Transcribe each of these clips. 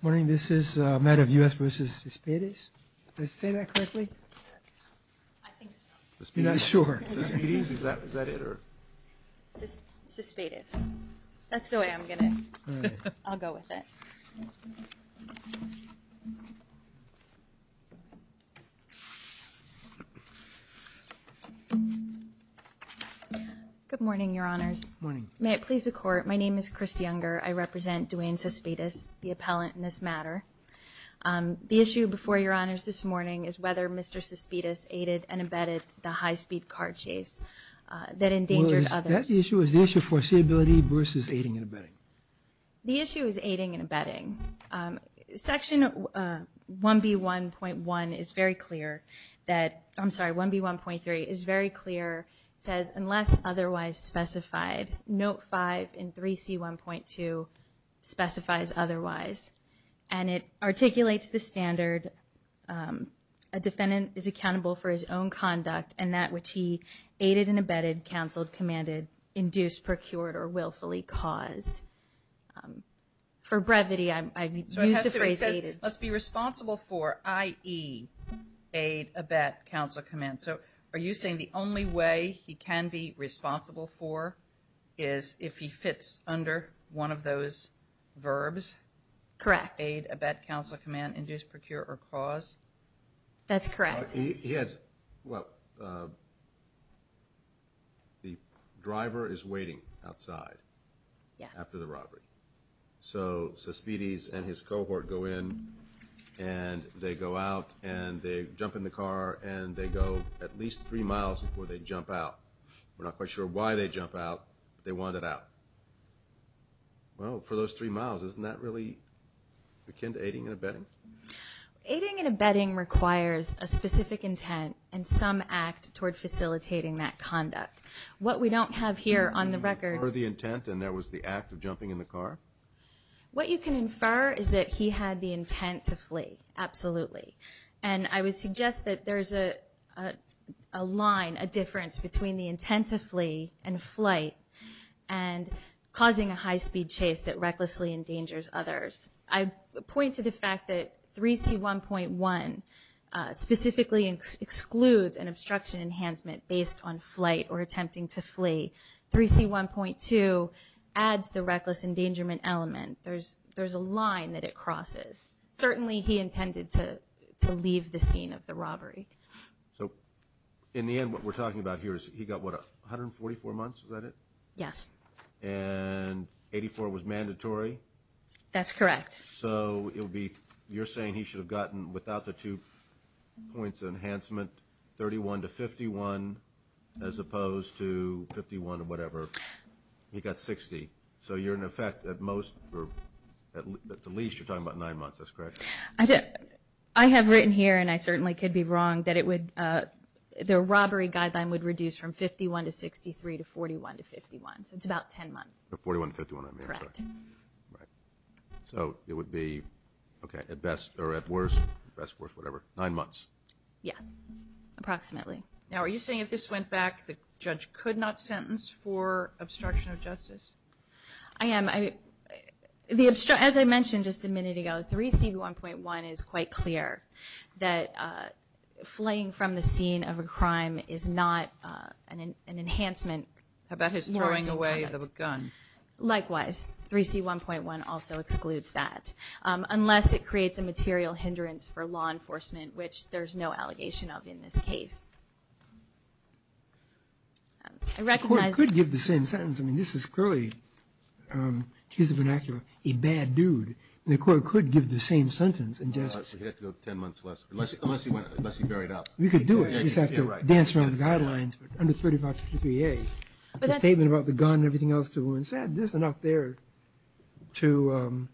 Good morning, this is a matter of U.S. v. Cespedes. Did I say that correctly? I think so. Cespedes? Is that it? Cespedes. That's the way I'm going to, I'll go with it. Good morning, Your Honors. Good morning. May it please the Court, my name is Kristi Unger. I represent Duane Cespedes, the appellant in this matter. The issue before Your Honors this morning is whether Mr. Cespedes aided and abetted the high-speed car chase that endangered others. Well, is that the issue? Is the issue foreseeability versus aiding and abetting? The issue is aiding and abetting. Section 1B.1.1 is very clear that, I'm sorry, 1B.1.3 is very clear. It says, unless otherwise specified. Note 5 in 3C.1.2 specifies otherwise. And it articulates the standard, a defendant is accountable for his own conduct and that which he aided and abetted, counseled, commanded, induced, procured, or willfully caused. For brevity, I've used the phrase aided. So it says he must be responsible for, i.e., aid, abet, counsel, command. So are you saying the only way he can be responsible for is if he fits under one of those verbs? Correct. Aid, abet, counsel, command, induce, procure, or cause? That's correct. He has, well, the driver is waiting outside. Yes. After the robbery. So Sospedes and his cohort go in, and they go out, and they jump in the car, and they go at least three miles before they jump out. We're not quite sure why they jump out, but they wanted out. Well, for those three miles, isn't that really akin to aiding and abetting? Aiding and abetting requires a specific intent and some act toward facilitating that conduct. What we don't have here on the record. Can you infer the intent, and that was the act of jumping in the car? What you can infer is that he had the intent to flee, absolutely. And I would suggest that there's a line, a difference between the intent to flee and flight and causing a high-speed chase that recklessly endangers others. I point to the fact that 3C1.1 specifically excludes an obstruction enhancement based on flight or attempting to flee. 3C1.2 adds the reckless endangerment element. There's a line that it crosses. Certainly, he intended to leave the scene of the robbery. So in the end, what we're talking about here is he got, what, 144 months, is that it? Yes. And 84 was mandatory? That's correct. So it would be, you're saying he should have gotten, without the two points of enhancement, 31 to 51 as opposed to 51 or whatever. He got 60. So you're, in effect, at most, or at the least, you're talking about 9 months, that's correct? I have written here, and I certainly could be wrong, that it would, the robbery guideline would reduce from 51 to 63 to 41 to 51. So it's about 10 months. 41 to 51, I mean. Correct. Right. So it would be, okay, at best or at worst, best, worst, whatever, 9 months. Yes, approximately. Now, are you saying if this went back, the judge could not sentence for obstruction of justice? I am. As I mentioned just a minute ago, 3C1.1 is quite clear that fleeing from the scene of a crime is not an enhancement. How about his throwing away the gun? Likewise. 3C1.1 also excludes that, unless it creates a material hindrance for law enforcement, which there's no allegation of in this case. I recognize. The court could give the same sentence. I mean, this is clearly, to use the vernacular, a bad dude. The court could give the same sentence and just. He'd have to go 10 months less, unless he varied up. We could do it. You'd just have to dance around the guidelines. Under 3553A, the statement about the gun and everything else the woman said, there's enough there to,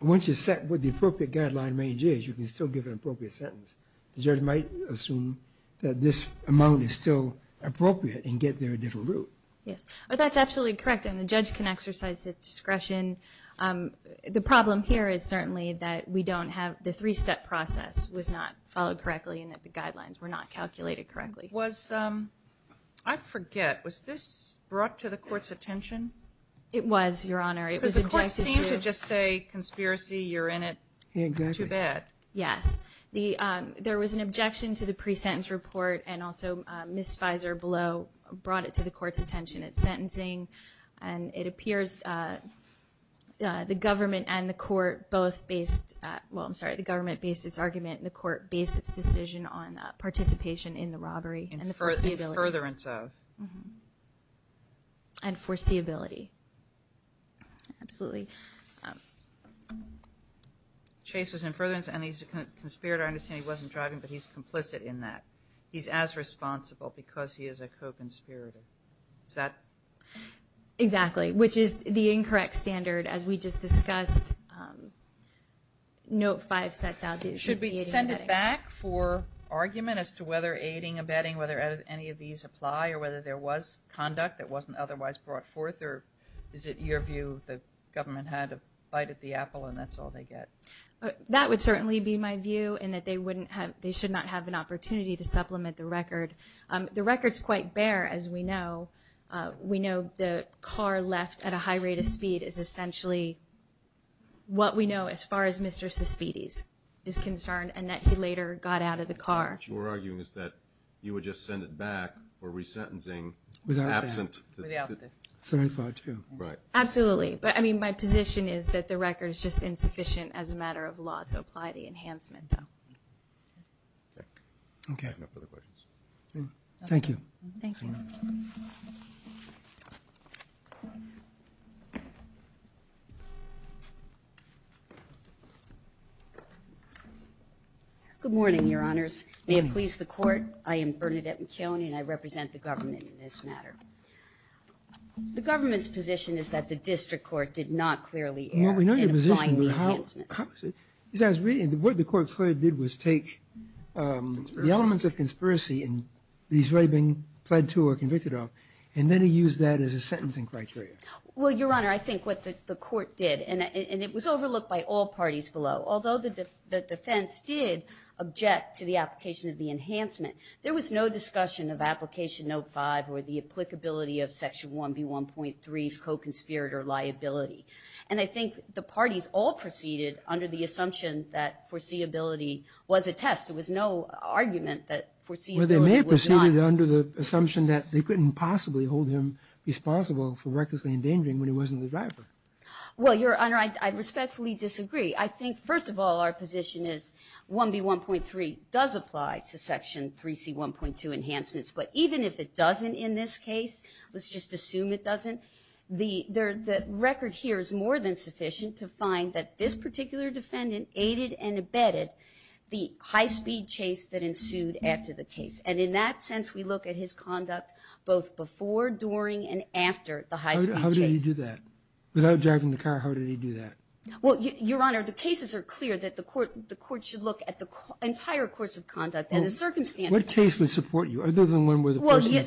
once you set what the appropriate guideline range is, you can still give an appropriate sentence. The judge might assume that this amount is still appropriate and get there a different route. Yes, that's absolutely correct, and the judge can exercise his discretion. The problem here is certainly that we don't have, the three-step process was not followed correctly and that the guidelines were not calculated correctly. Was, I forget, was this brought to the court's attention? It was, Your Honor. Because the court seemed to just say, conspiracy, you're in it. Exactly. Too bad. Yes. There was an objection to the pre-sentence report, and also Ms. Fizer below brought it to the court's attention. It's sentencing, and it appears the government and the court both based, well, I'm sorry, the government based its argument and the court based its decision on participation in the robbery. In furtherance of. And foreseeability. Absolutely. Chase was in furtherance, and he's a conspirator. I understand he wasn't driving, but he's complicit in that. He's as responsible because he is a co-conspirator. Is that? Exactly, which is the incorrect standard, as we just discussed. Note five sets out the aiding and abetting. Should we send it back for argument as to whether aiding, abetting, whether any of these apply, or whether there was conduct that wasn't otherwise brought forth, or is it your view the government had a bite at the apple and that's all they get? That would certainly be my view, in that they should not have an opportunity to supplement the record. The record's quite bare, as we know. We know the car left at a high rate of speed is essentially what we know, as far as Mr. Suspides is concerned, and that he later got out of the car. What you're arguing is that you would just send it back for resentencing. Without the. Very far, too. Absolutely. But, I mean, my position is that the record is just insufficient, as a matter of law, to apply the enhancement, though. Okay. No further questions. Thank you. Thank you. Good morning, Your Honors. May it please the Court. I am Bernadette McKeown, and I represent the government in this matter. The government's position is that the district court did not clearly err in applying the enhancement. What the court clearly did was take the elements of conspiracy and the Israeli being pled to or convicted of, and then it used that as a sentencing criteria. Well, Your Honor, I think what the court did, and it was overlooked by all parties below, although the defense did object to the application of the enhancement, there was no discussion of application note 5 or the applicability of section 1B1.3's co-conspirator liability. And I think the parties all proceeded under the assumption that foreseeability was a test. There was no argument that foreseeability was not. Well, they may have proceeded under the assumption that they couldn't possibly hold him responsible for recklessly endangering when he wasn't the driver. Well, Your Honor, I respectfully disagree. I think, first of all, our position is 1B1.3 does apply to section 3C1.2 enhancements, but even if it doesn't in this case, let's just assume it doesn't, the record here is more than sufficient to find that this particular defendant aided and abetted the high-speed chase that ensued after the case. And in that sense, we look at his conduct both before, during, and after the high-speed chase. How did he do that? Without driving the car, how did he do that? Well, Your Honor, the cases are clear that the court should look at the entire course of conduct and the circumstances. The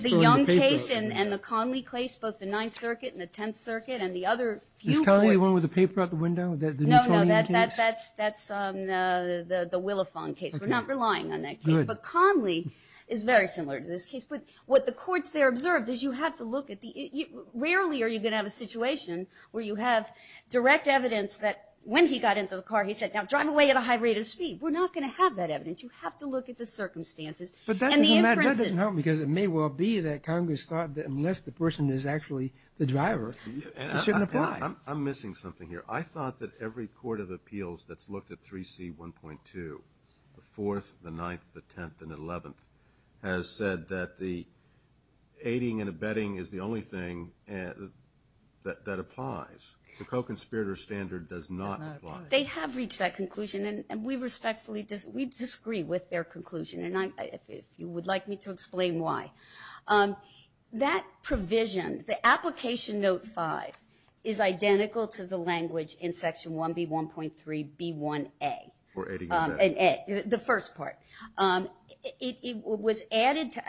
Young case and the Conley case, both the Ninth Circuit and the Tenth Circuit, and the other few courts. Is Conley the one with the paper out the window? No, no, that's the Willifong case. We're not relying on that case. But Conley is very similar to this case. But what the courts there observed is you have to look at the – rarely are you going to have a situation where you have direct evidence that when he got into the car, he said, now drive away at a high rate of speed. We're not going to have that evidence. You have to look at the circumstances and the inferences. That doesn't help because it may well be that Congress thought that unless the person is actually the driver, it shouldn't apply. I'm missing something here. I thought that every court of appeals that's looked at 3C1.2, the Fourth, the Ninth, the Tenth, and the Eleventh, has said that the aiding and abetting is the only thing that applies. The co-conspirator standard does not apply. They have reached that conclusion, and we respectfully disagree with their conclusion. And if you would like me to explain why. That provision, the Application Note 5, is identical to the language in Section 1B1.3B1A. For aiding and abetting. The first part. It was added to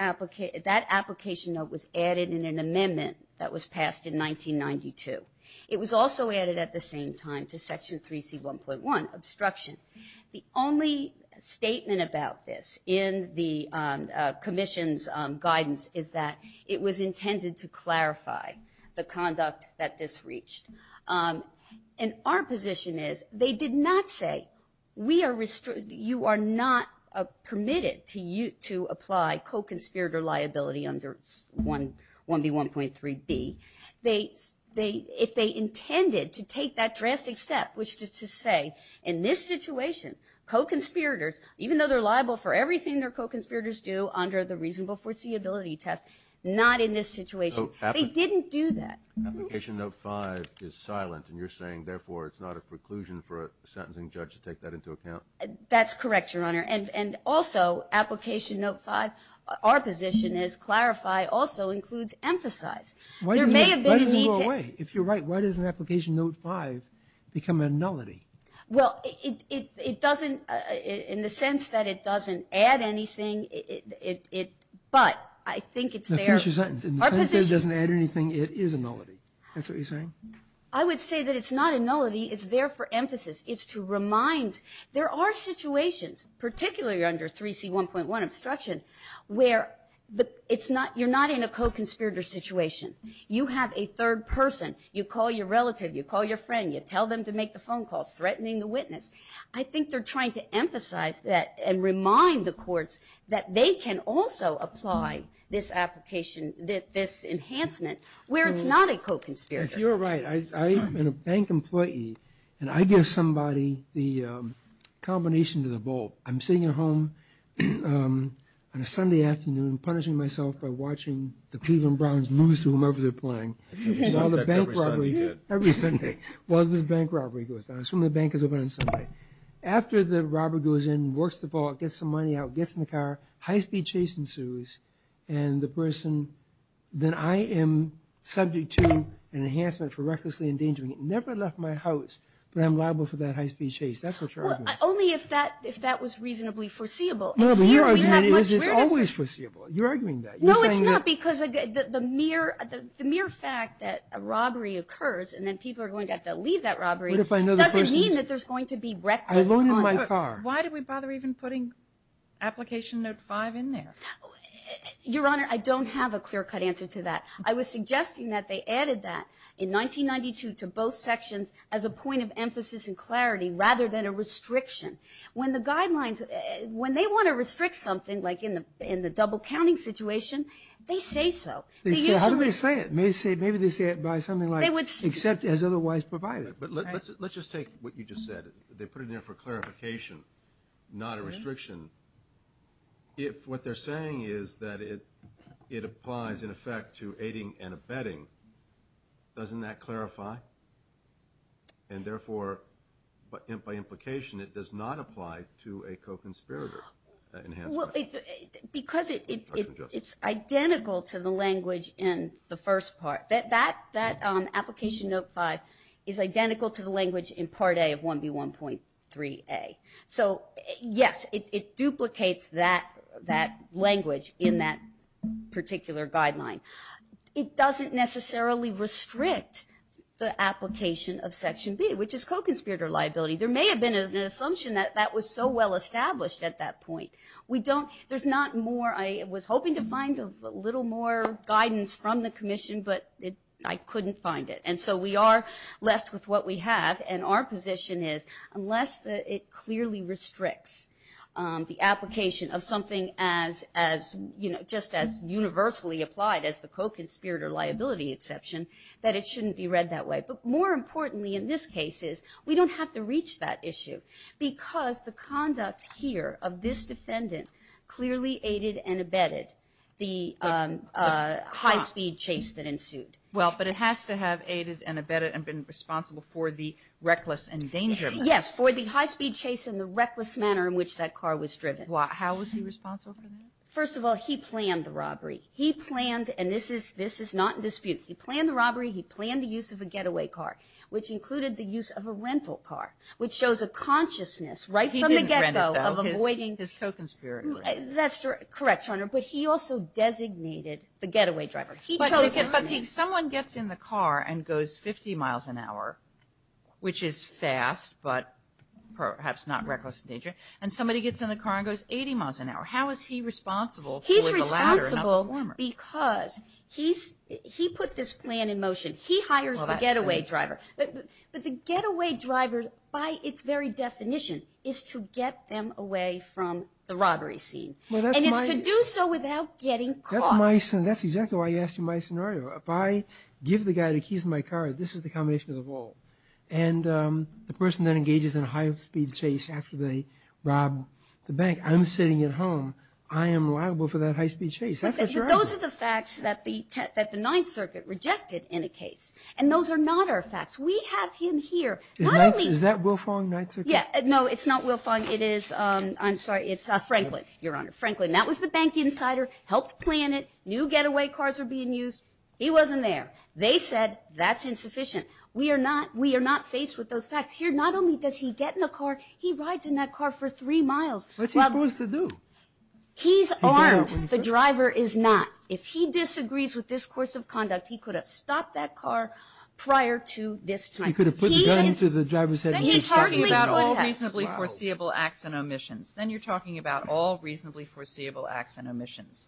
– that application note was added in an amendment that was passed in 1992. It was also added at the same time to Section 3C1.1, obstruction. The only statement about this in the commission's guidance is that it was intended to clarify the conduct that this reached. And our position is they did not say we are – you are not permitted to apply co-conspirator liability under 1B1.3B. If they intended to take that drastic step, which is to say, in this situation, co-conspirators, even though they're liable for everything their co-conspirators do under the reasonable foreseeability test, not in this situation. They didn't do that. Application Note 5 is silent, and you're saying, therefore, it's not a preclusion for a sentencing judge to take that into account? That's correct, Your Honor. And also, Application Note 5, our position is clarify also includes emphasize. There may have been a need to – Why doesn't it go away? If you're right, why doesn't Application Note 5 become a nullity? Well, it doesn't – in the sense that it doesn't add anything, it – but I think it's there. Now, finish your sentence. In the sense that it doesn't add anything, it is a nullity. That's what you're saying? I would say that it's not a nullity. It's there for emphasis. It's to remind – there are situations, particularly under 3C1.1, obstruction, where it's not – you're not in a co-conspirator situation. You have a third person. You call your relative. You call your friend. You tell them to make the phone calls, threatening the witness. I think they're trying to emphasize that and remind the courts that they can also apply this application, this enhancement, where it's not a co-conspirator. You're right. I'm a bank employee, and I give somebody the combination to the bowl. I'm sitting at home on a Sunday afternoon punishing myself by watching the Cleveland Browns lose to whomever they're playing. So you saw the bank robbery. That's every Sunday. Every Sunday. Well, the bank robbery goes down. I assume the bank is open on Sunday. After the robber goes in, works the ball, gets some money out, gets in the car, high-speed chase ensues, and the person – then I am subject to an enhancement for recklessly endangering it. It never left my house, but I'm liable for that high-speed chase. That's what you're arguing. Only if that was reasonably foreseeable. No, but your argument is it's always foreseeable. You're arguing that. No, it's not, because the mere fact that a robbery occurs and then people are going to have to leave that robbery doesn't mean that there's going to be reckless conduct. I loaded my car. Why do we bother even putting Application Note 5 in there? Your Honor, I don't have a clear-cut answer to that. I was suggesting that they added that in 1992 to both sections as a point of emphasis and clarity rather than a restriction. When the guidelines – when they want to restrict something, like in the double-counting situation, they say so. How do they say it? Maybe they say it by something like, except as otherwise provided. But let's just take what you just said. They put it in there for clarification, not a restriction. If what they're saying is that it applies, in effect, to aiding and abetting, doesn't that clarify? And therefore, by implication, it does not apply to a co-conspirator enhancement. Because it's identical to the language in the first part. That Application Note 5 is identical to the language in Part A of 1B1.3a. So, yes, it duplicates that language in that particular guideline. It doesn't necessarily restrict the application of Section B, which is co-conspirator liability. There may have been an assumption that that was so well-established at that point. We don't – there's not more – I was hoping to find a little more guidance from the Commission, but I couldn't find it. And so we are left with what we have. And our position is, unless it clearly restricts the application of something just as universally applied as the co-conspirator liability exception, that it shouldn't be read that way. But more importantly in this case is we don't have to reach that issue because the conduct here of this defendant clearly aided and abetted the high-speed chase that ensued. Well, but it has to have aided and abetted and been responsible for the reckless endangerment. Yes, for the high-speed chase and the reckless manner in which that car was driven. How was he responsible for that? First of all, he planned the robbery. He planned – and this is not in dispute. He planned the robbery. He planned the use of a getaway car, which included the use of a rental car, which shows a consciousness right from the get-go of avoiding – He didn't rent it, though. His co-conspirator. That's correct, Your Honor. But he also designated the getaway driver. He chose this man. But if someone gets in the car and goes 50 miles an hour, which is fast but perhaps not reckless endangerment, and somebody gets in the car and goes 80 miles an hour, how is he responsible for the latter and not the former? He's responsible because he put this plan in motion. He hires the getaway driver. But the getaway driver, by its very definition, is to get them away from the robbery scene. And it's to do so without getting caught. That's exactly why I asked you my scenario. If I give the guy the keys to my car, this is the combination of them all. And the person that engages in a high-speed chase after they rob the bank, I'm sitting at home. I am liable for that high-speed chase. That's what you're arguing. But those are the facts that the Ninth Circuit rejected in a case. And those are not our facts. We have him here. Is that Wilfong, Ninth Circuit? Yeah. No, it's not Wilfong. It is – I'm sorry. It's Franklin, Your Honor. Franklin. That was the bank insider. Helped plan it. New getaway cars are being used. He wasn't there. They said that's insufficient. We are not – we are not faced with those facts. Here, not only does he get in the car, he rides in that car for three miles. What's he supposed to do? He's armed. The driver is not. If he disagrees with this course of conduct, he could have stopped that car prior to this time. He could have put the gun into the driver's head and just – Then he's talking about all reasonably foreseeable acts and omissions. Then you're talking about all reasonably foreseeable acts and omissions.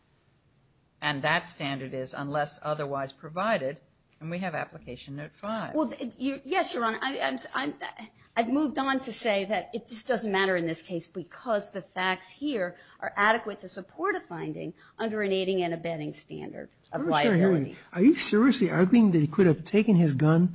And that standard is unless otherwise provided. And we have Application Note 5. Well, yes, Your Honor. I've moved on to say that it just doesn't matter in this case because the facts here are adequate to support a finding under an aiding and abetting standard of liability. Are you seriously arguing that he could have taken his gun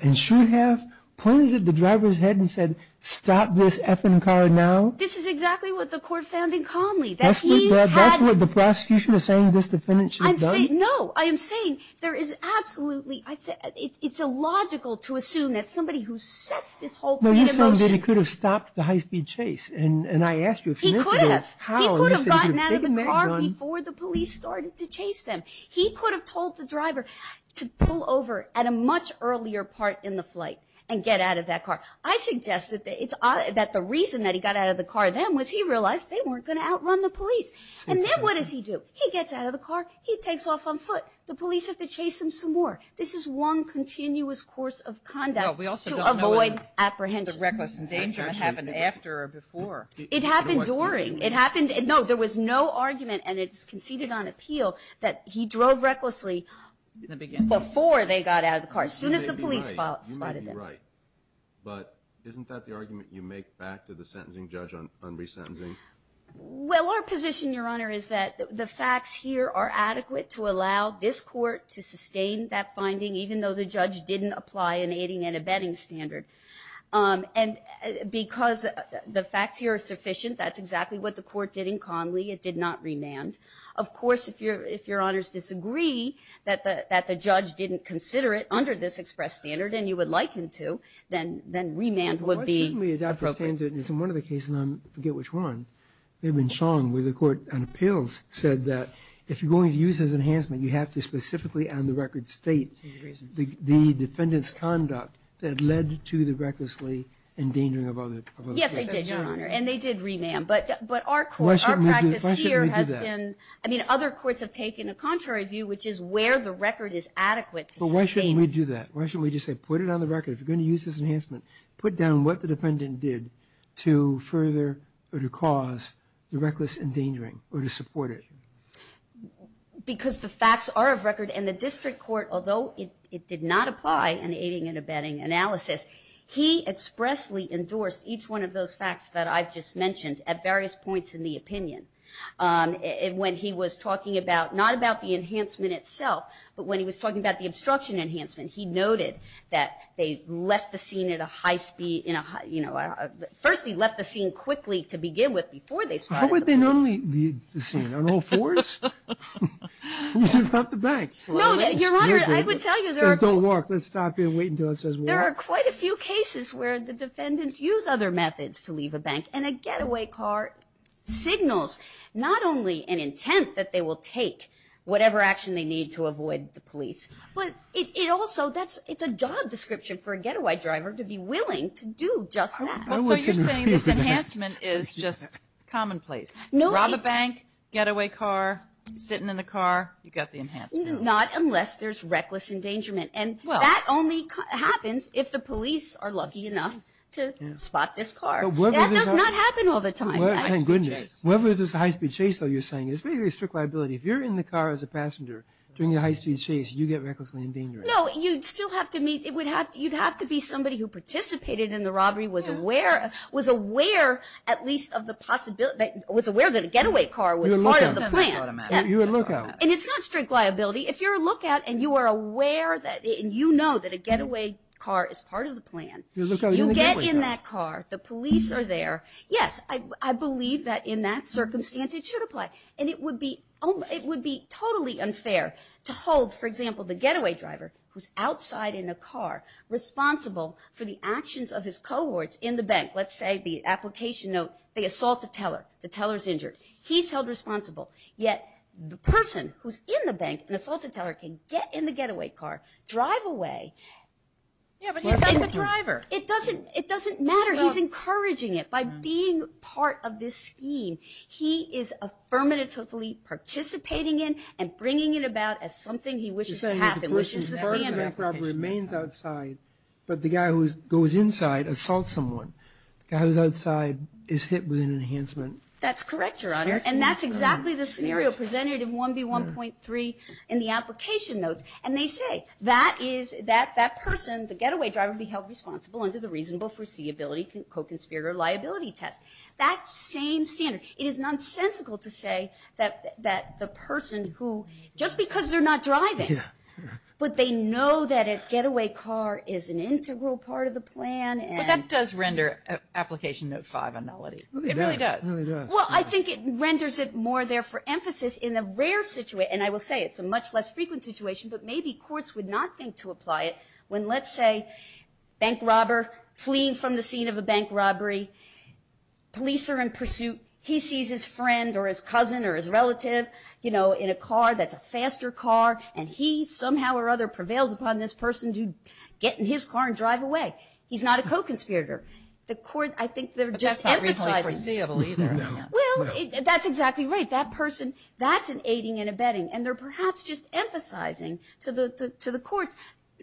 and should have pointed it at the driver's head and said, stop this effing car now? This is exactly what the court found in Conley. That's what the prosecution is saying this defendant should have done? I'm saying – no. I am saying there is absolutely – it's illogical to assume that somebody who sets this whole thing in motion – No, you're saying that he could have stopped the high-speed chase. And I asked you a few minutes ago – He could have. He could have gotten out of the car before the police started to chase them. He could have told the driver to pull over at a much earlier part in the flight and get out of that car. I suggest that the reason that he got out of the car then was he realized they weren't going to outrun the police. And then what does he do? He gets out of the car. He takes off on foot. The police have to chase him some more. This is one continuous course of conduct to avoid apprehension. No, we also don't know whether the reckless endangerment happened after or before. It happened during. It happened – no, there was no argument, and it's conceded on appeal, that he drove recklessly before they got out of the car, as soon as the police spotted them. Right. But isn't that the argument you make back to the sentencing judge on resentencing? Well, our position, Your Honor, is that the facts here are adequate to allow this court to sustain that finding, even though the judge didn't apply an aiding and abetting standard. And because the facts here are sufficient, that's exactly what the court did in Conley. It did not remand. Of course, if Your Honors disagree that the judge didn't consider it under this express standard, and you would like him to, then remand would be appropriate. Well, why shouldn't we adopt a standard? It's in one of the cases, and I forget which one, maybe in Song where the court on appeals said that if you're going to use this as enhancement, you have to specifically on the record state the defendant's conduct that led to the recklessly endangering of others. Yes, they did, Your Honor, and they did remand. But our court, our practice here has been – I mean, other courts have taken a contrary view, which is where the record is adequate to sustain it. Why shouldn't we do that? Why shouldn't we just say put it on the record? If you're going to use this enhancement, put down what the defendant did to further or to cause the reckless endangering or to support it. Because the facts are of record, and the district court, although it did not apply an aiding and abetting analysis, he expressly endorsed each one of those facts that I've just mentioned at various points in the opinion. When he was talking about – not about the enhancement itself, but when he was talking about the obstruction enhancement, he noted that they left the scene at a high speed – first, he left the scene quickly to begin with before they started the offense. How would they normally leave the scene? On all fours? Who's in front of the bank? No, Your Honor, I would tell you there are – It says don't walk. Let's stop here and wait until it says walk. There are quite a few cases where the defendants use other methods to leave a bank, and a getaway car signals not only an intent that they will take whatever action they need to avoid the police, but it also – it's a job description for a getaway driver to be willing to do just that. So you're saying this enhancement is just commonplace. Rob a bank, getaway car, sitting in the car, you've got the enhancement. Not unless there's reckless endangerment. And that only happens if the police are lucky enough to spot this car. That does not happen all the time. Thank goodness. Whether it's a high-speed chase, though, you're saying, it's basically a strict liability. If you're in the car as a passenger during a high-speed chase, you get recklessly endangered. No, you'd still have to meet – you'd have to be somebody who participated in the robbery, was aware at least of the – was aware that a getaway car was part of the plan. You would look out. And it's not strict liability. If you're a lookout and you are aware that – and you know that a getaway car is part of the plan, you get in that car, the police are there. Yes, I believe that in that circumstance it should apply. And it would be totally unfair to hold, for example, the getaway driver who's outside in a car, responsible for the actions of his cohorts in the bank. Let's say the application note, they assault the teller, the teller's injured. He's held responsible. Yet the person who's in the bank, an assaulted teller, can get in the getaway car, drive away. Yeah, but he's not the driver. It doesn't – it doesn't matter. He's encouraging it by being part of this scheme. He is affirmatively participating in and bringing it about as something he wishes to happen, which is the standard application. You're saying that the person in the car remains outside, but the guy who goes inside assaults someone. The guy who's outside is hit with an enhancement. That's correct, Your Honor. And that's exactly the scenario presented in 1B1.3 in the application notes. And they say that is – that that person, the getaway driver, would be held responsible under the reasonable foreseeability co-conspirator liability test. That same standard. It is nonsensical to say that the person who – just because they're not driving, but they know that a getaway car is an integral part of the plan and – But that does render application note 5 a nullity. It really does. Well, I think it renders it more there for emphasis in the rare – and I will say it's a much less frequent situation, but maybe courts would not think to apply it when, let's say, bank robber fleeing from the scene of a bank robbery. Police are in pursuit. He sees his friend or his cousin or his relative, you know, in a car that's a faster car, and he somehow or other prevails upon this person to get in his car and drive away. He's not a co-conspirator. The court – I think they're just emphasizing – But that's not reasonably foreseeable either. Well, that's exactly right. That person, that's an aiding and abetting, and they're perhaps just emphasizing to the courts,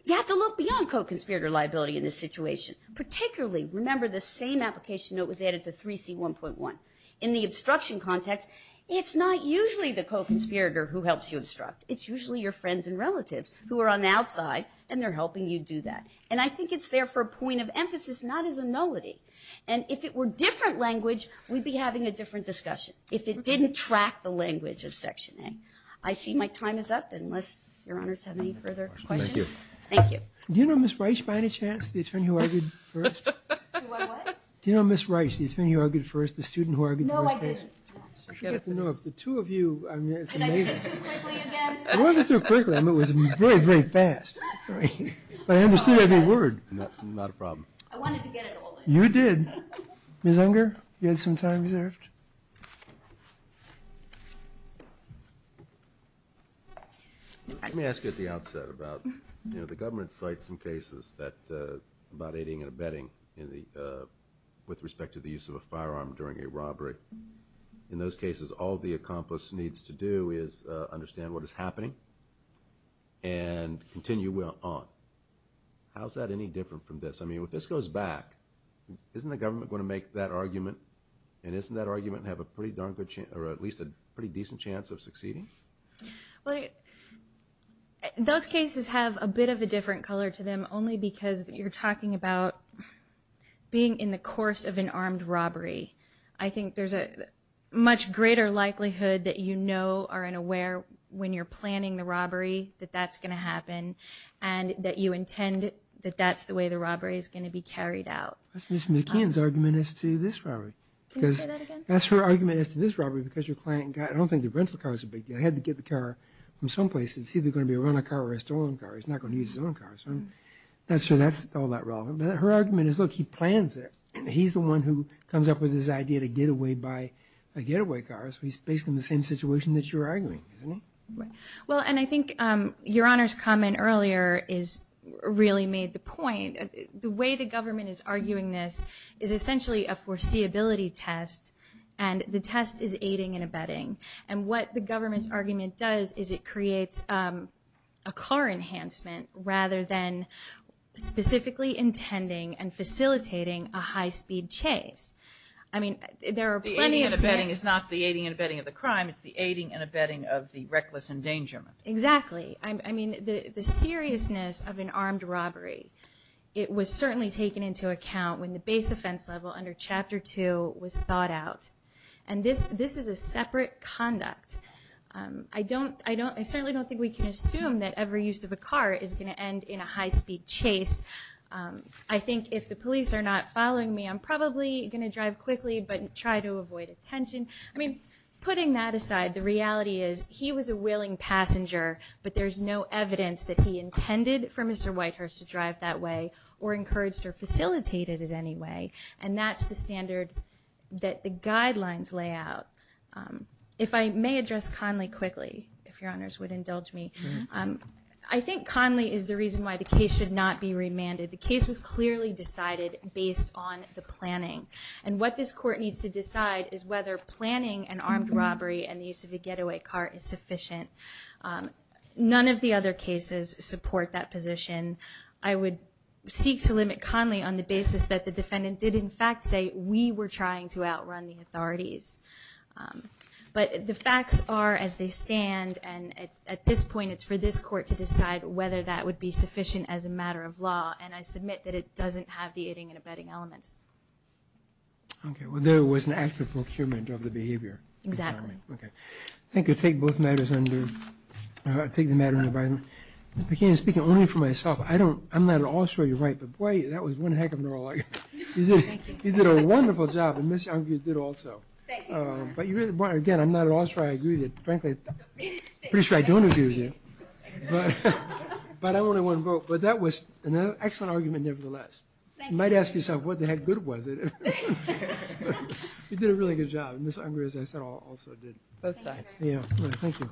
you have to look beyond co-conspirator liability in this situation, particularly remember the same application note was added to 3C1.1. In the obstruction context, it's not usually the co-conspirator who helps you obstruct. It's usually your friends and relatives who are on the outside, and they're helping you do that. And I think it's there for a point of emphasis, not as a nullity. And if it were different language, we'd be having a different discussion. If it didn't track the language of Section A. I see my time is up, unless Your Honors have any further questions. Thank you. Thank you. Do you know Ms. Reich, by any chance, the attorney who argued first? What, what? Do you know Ms. Reich, the attorney who argued first, the student who argued first case? No, I didn't. No, the two of you, I mean, it's amazing. Did I speak too quickly again? It wasn't too quickly. I mean, it was very, very fast. But I understood every word. Not a problem. I wanted to get it all in. You did. Ms. Unger, you had some time reserved. Let me ask you at the outset about, you know, the government cites some cases that, about aiding and abetting in the, with respect to the use of a firearm during a robbery. In those cases, all the accomplice needs to do is understand what is happening and continue on. How is that any different from this? I mean, if this goes back, isn't the government going to make that argument and isn't that argument have a pretty darn good chance, or at least a pretty decent chance of succeeding? Well, those cases have a bit of a different color to them only because you're talking about being in the course of an armed robbery. I think there's a much greater likelihood that you know or are aware when you're planning the robbery that that's going to happen and that you intend that that's the way the robbery is going to be carried out. That's Ms. McKeon's argument as to this robbery. Can you say that again? That's her argument as to this robbery because your client got, I don't think the rental car is a big deal. He had to get the car from some place. It's either going to be a runner car or a stolen car. He's not going to use his own car, so that's all that relevant. But her argument is, look, he plans it. He's the one who comes up with this idea to get away by a getaway car, so he's basically in the same situation that you're arguing, isn't he? Well, and I think Your Honor's comment earlier really made the point. The way the government is arguing this is essentially a foreseeability test, and the test is aiding and abetting. And what the government's argument does is it creates a car enhancement rather than specifically intending and facilitating a high-speed chase. The aiding and abetting is not the aiding and abetting of the crime. It's the aiding and abetting of the reckless endangerment. Exactly. I mean, the seriousness of an armed robbery, it was certainly taken into account when the base offense level under Chapter 2 was thought out. And this is a separate conduct. I certainly don't think we can assume that every use of a car is going to end in a high-speed chase. I think if the police are not following me, I'm probably going to drive quickly but try to avoid attention. I mean, putting that aside, the reality is he was a willing passenger, but there's no evidence that he intended for Mr. Whitehurst to drive that way or encouraged or facilitated it any way. And that's the standard that the guidelines lay out. If I may address Conley quickly, if Your Honors would indulge me. I think Conley is the reason why the case should not be remanded. The case was clearly decided based on the planning. And what this Court needs to decide is whether planning an armed robbery and the use of a getaway car is sufficient. None of the other cases support that position. I would seek to limit Conley on the basis that the defendant did in fact say, we were trying to outrun the authorities. But the facts are as they stand, and at this point it's for this Court to decide whether that would be sufficient as a matter of law, and I submit that it doesn't have the aiding and abetting elements. Okay. Well, there was an act of procurement of the behavior. Exactly. Okay. Thank you. I'll take both matters under – I'll take the matter under my own – but again, speaking only for myself, I don't – I'm not at all sure you're right, but boy, that was one heck of an oral argument. You did a wonderful job, and Ms. Unger did also. Thank you, Your Honor. But you really – again, I'm not at all sure I agree with you. Frankly, I'm pretty sure I don't agree with you. But I only won both. But that was an excellent argument nevertheless. Thank you. You might ask yourself, what the heck good was it? You did a really good job. Ms. Unger, as I said, also did. Both sides. Thank you.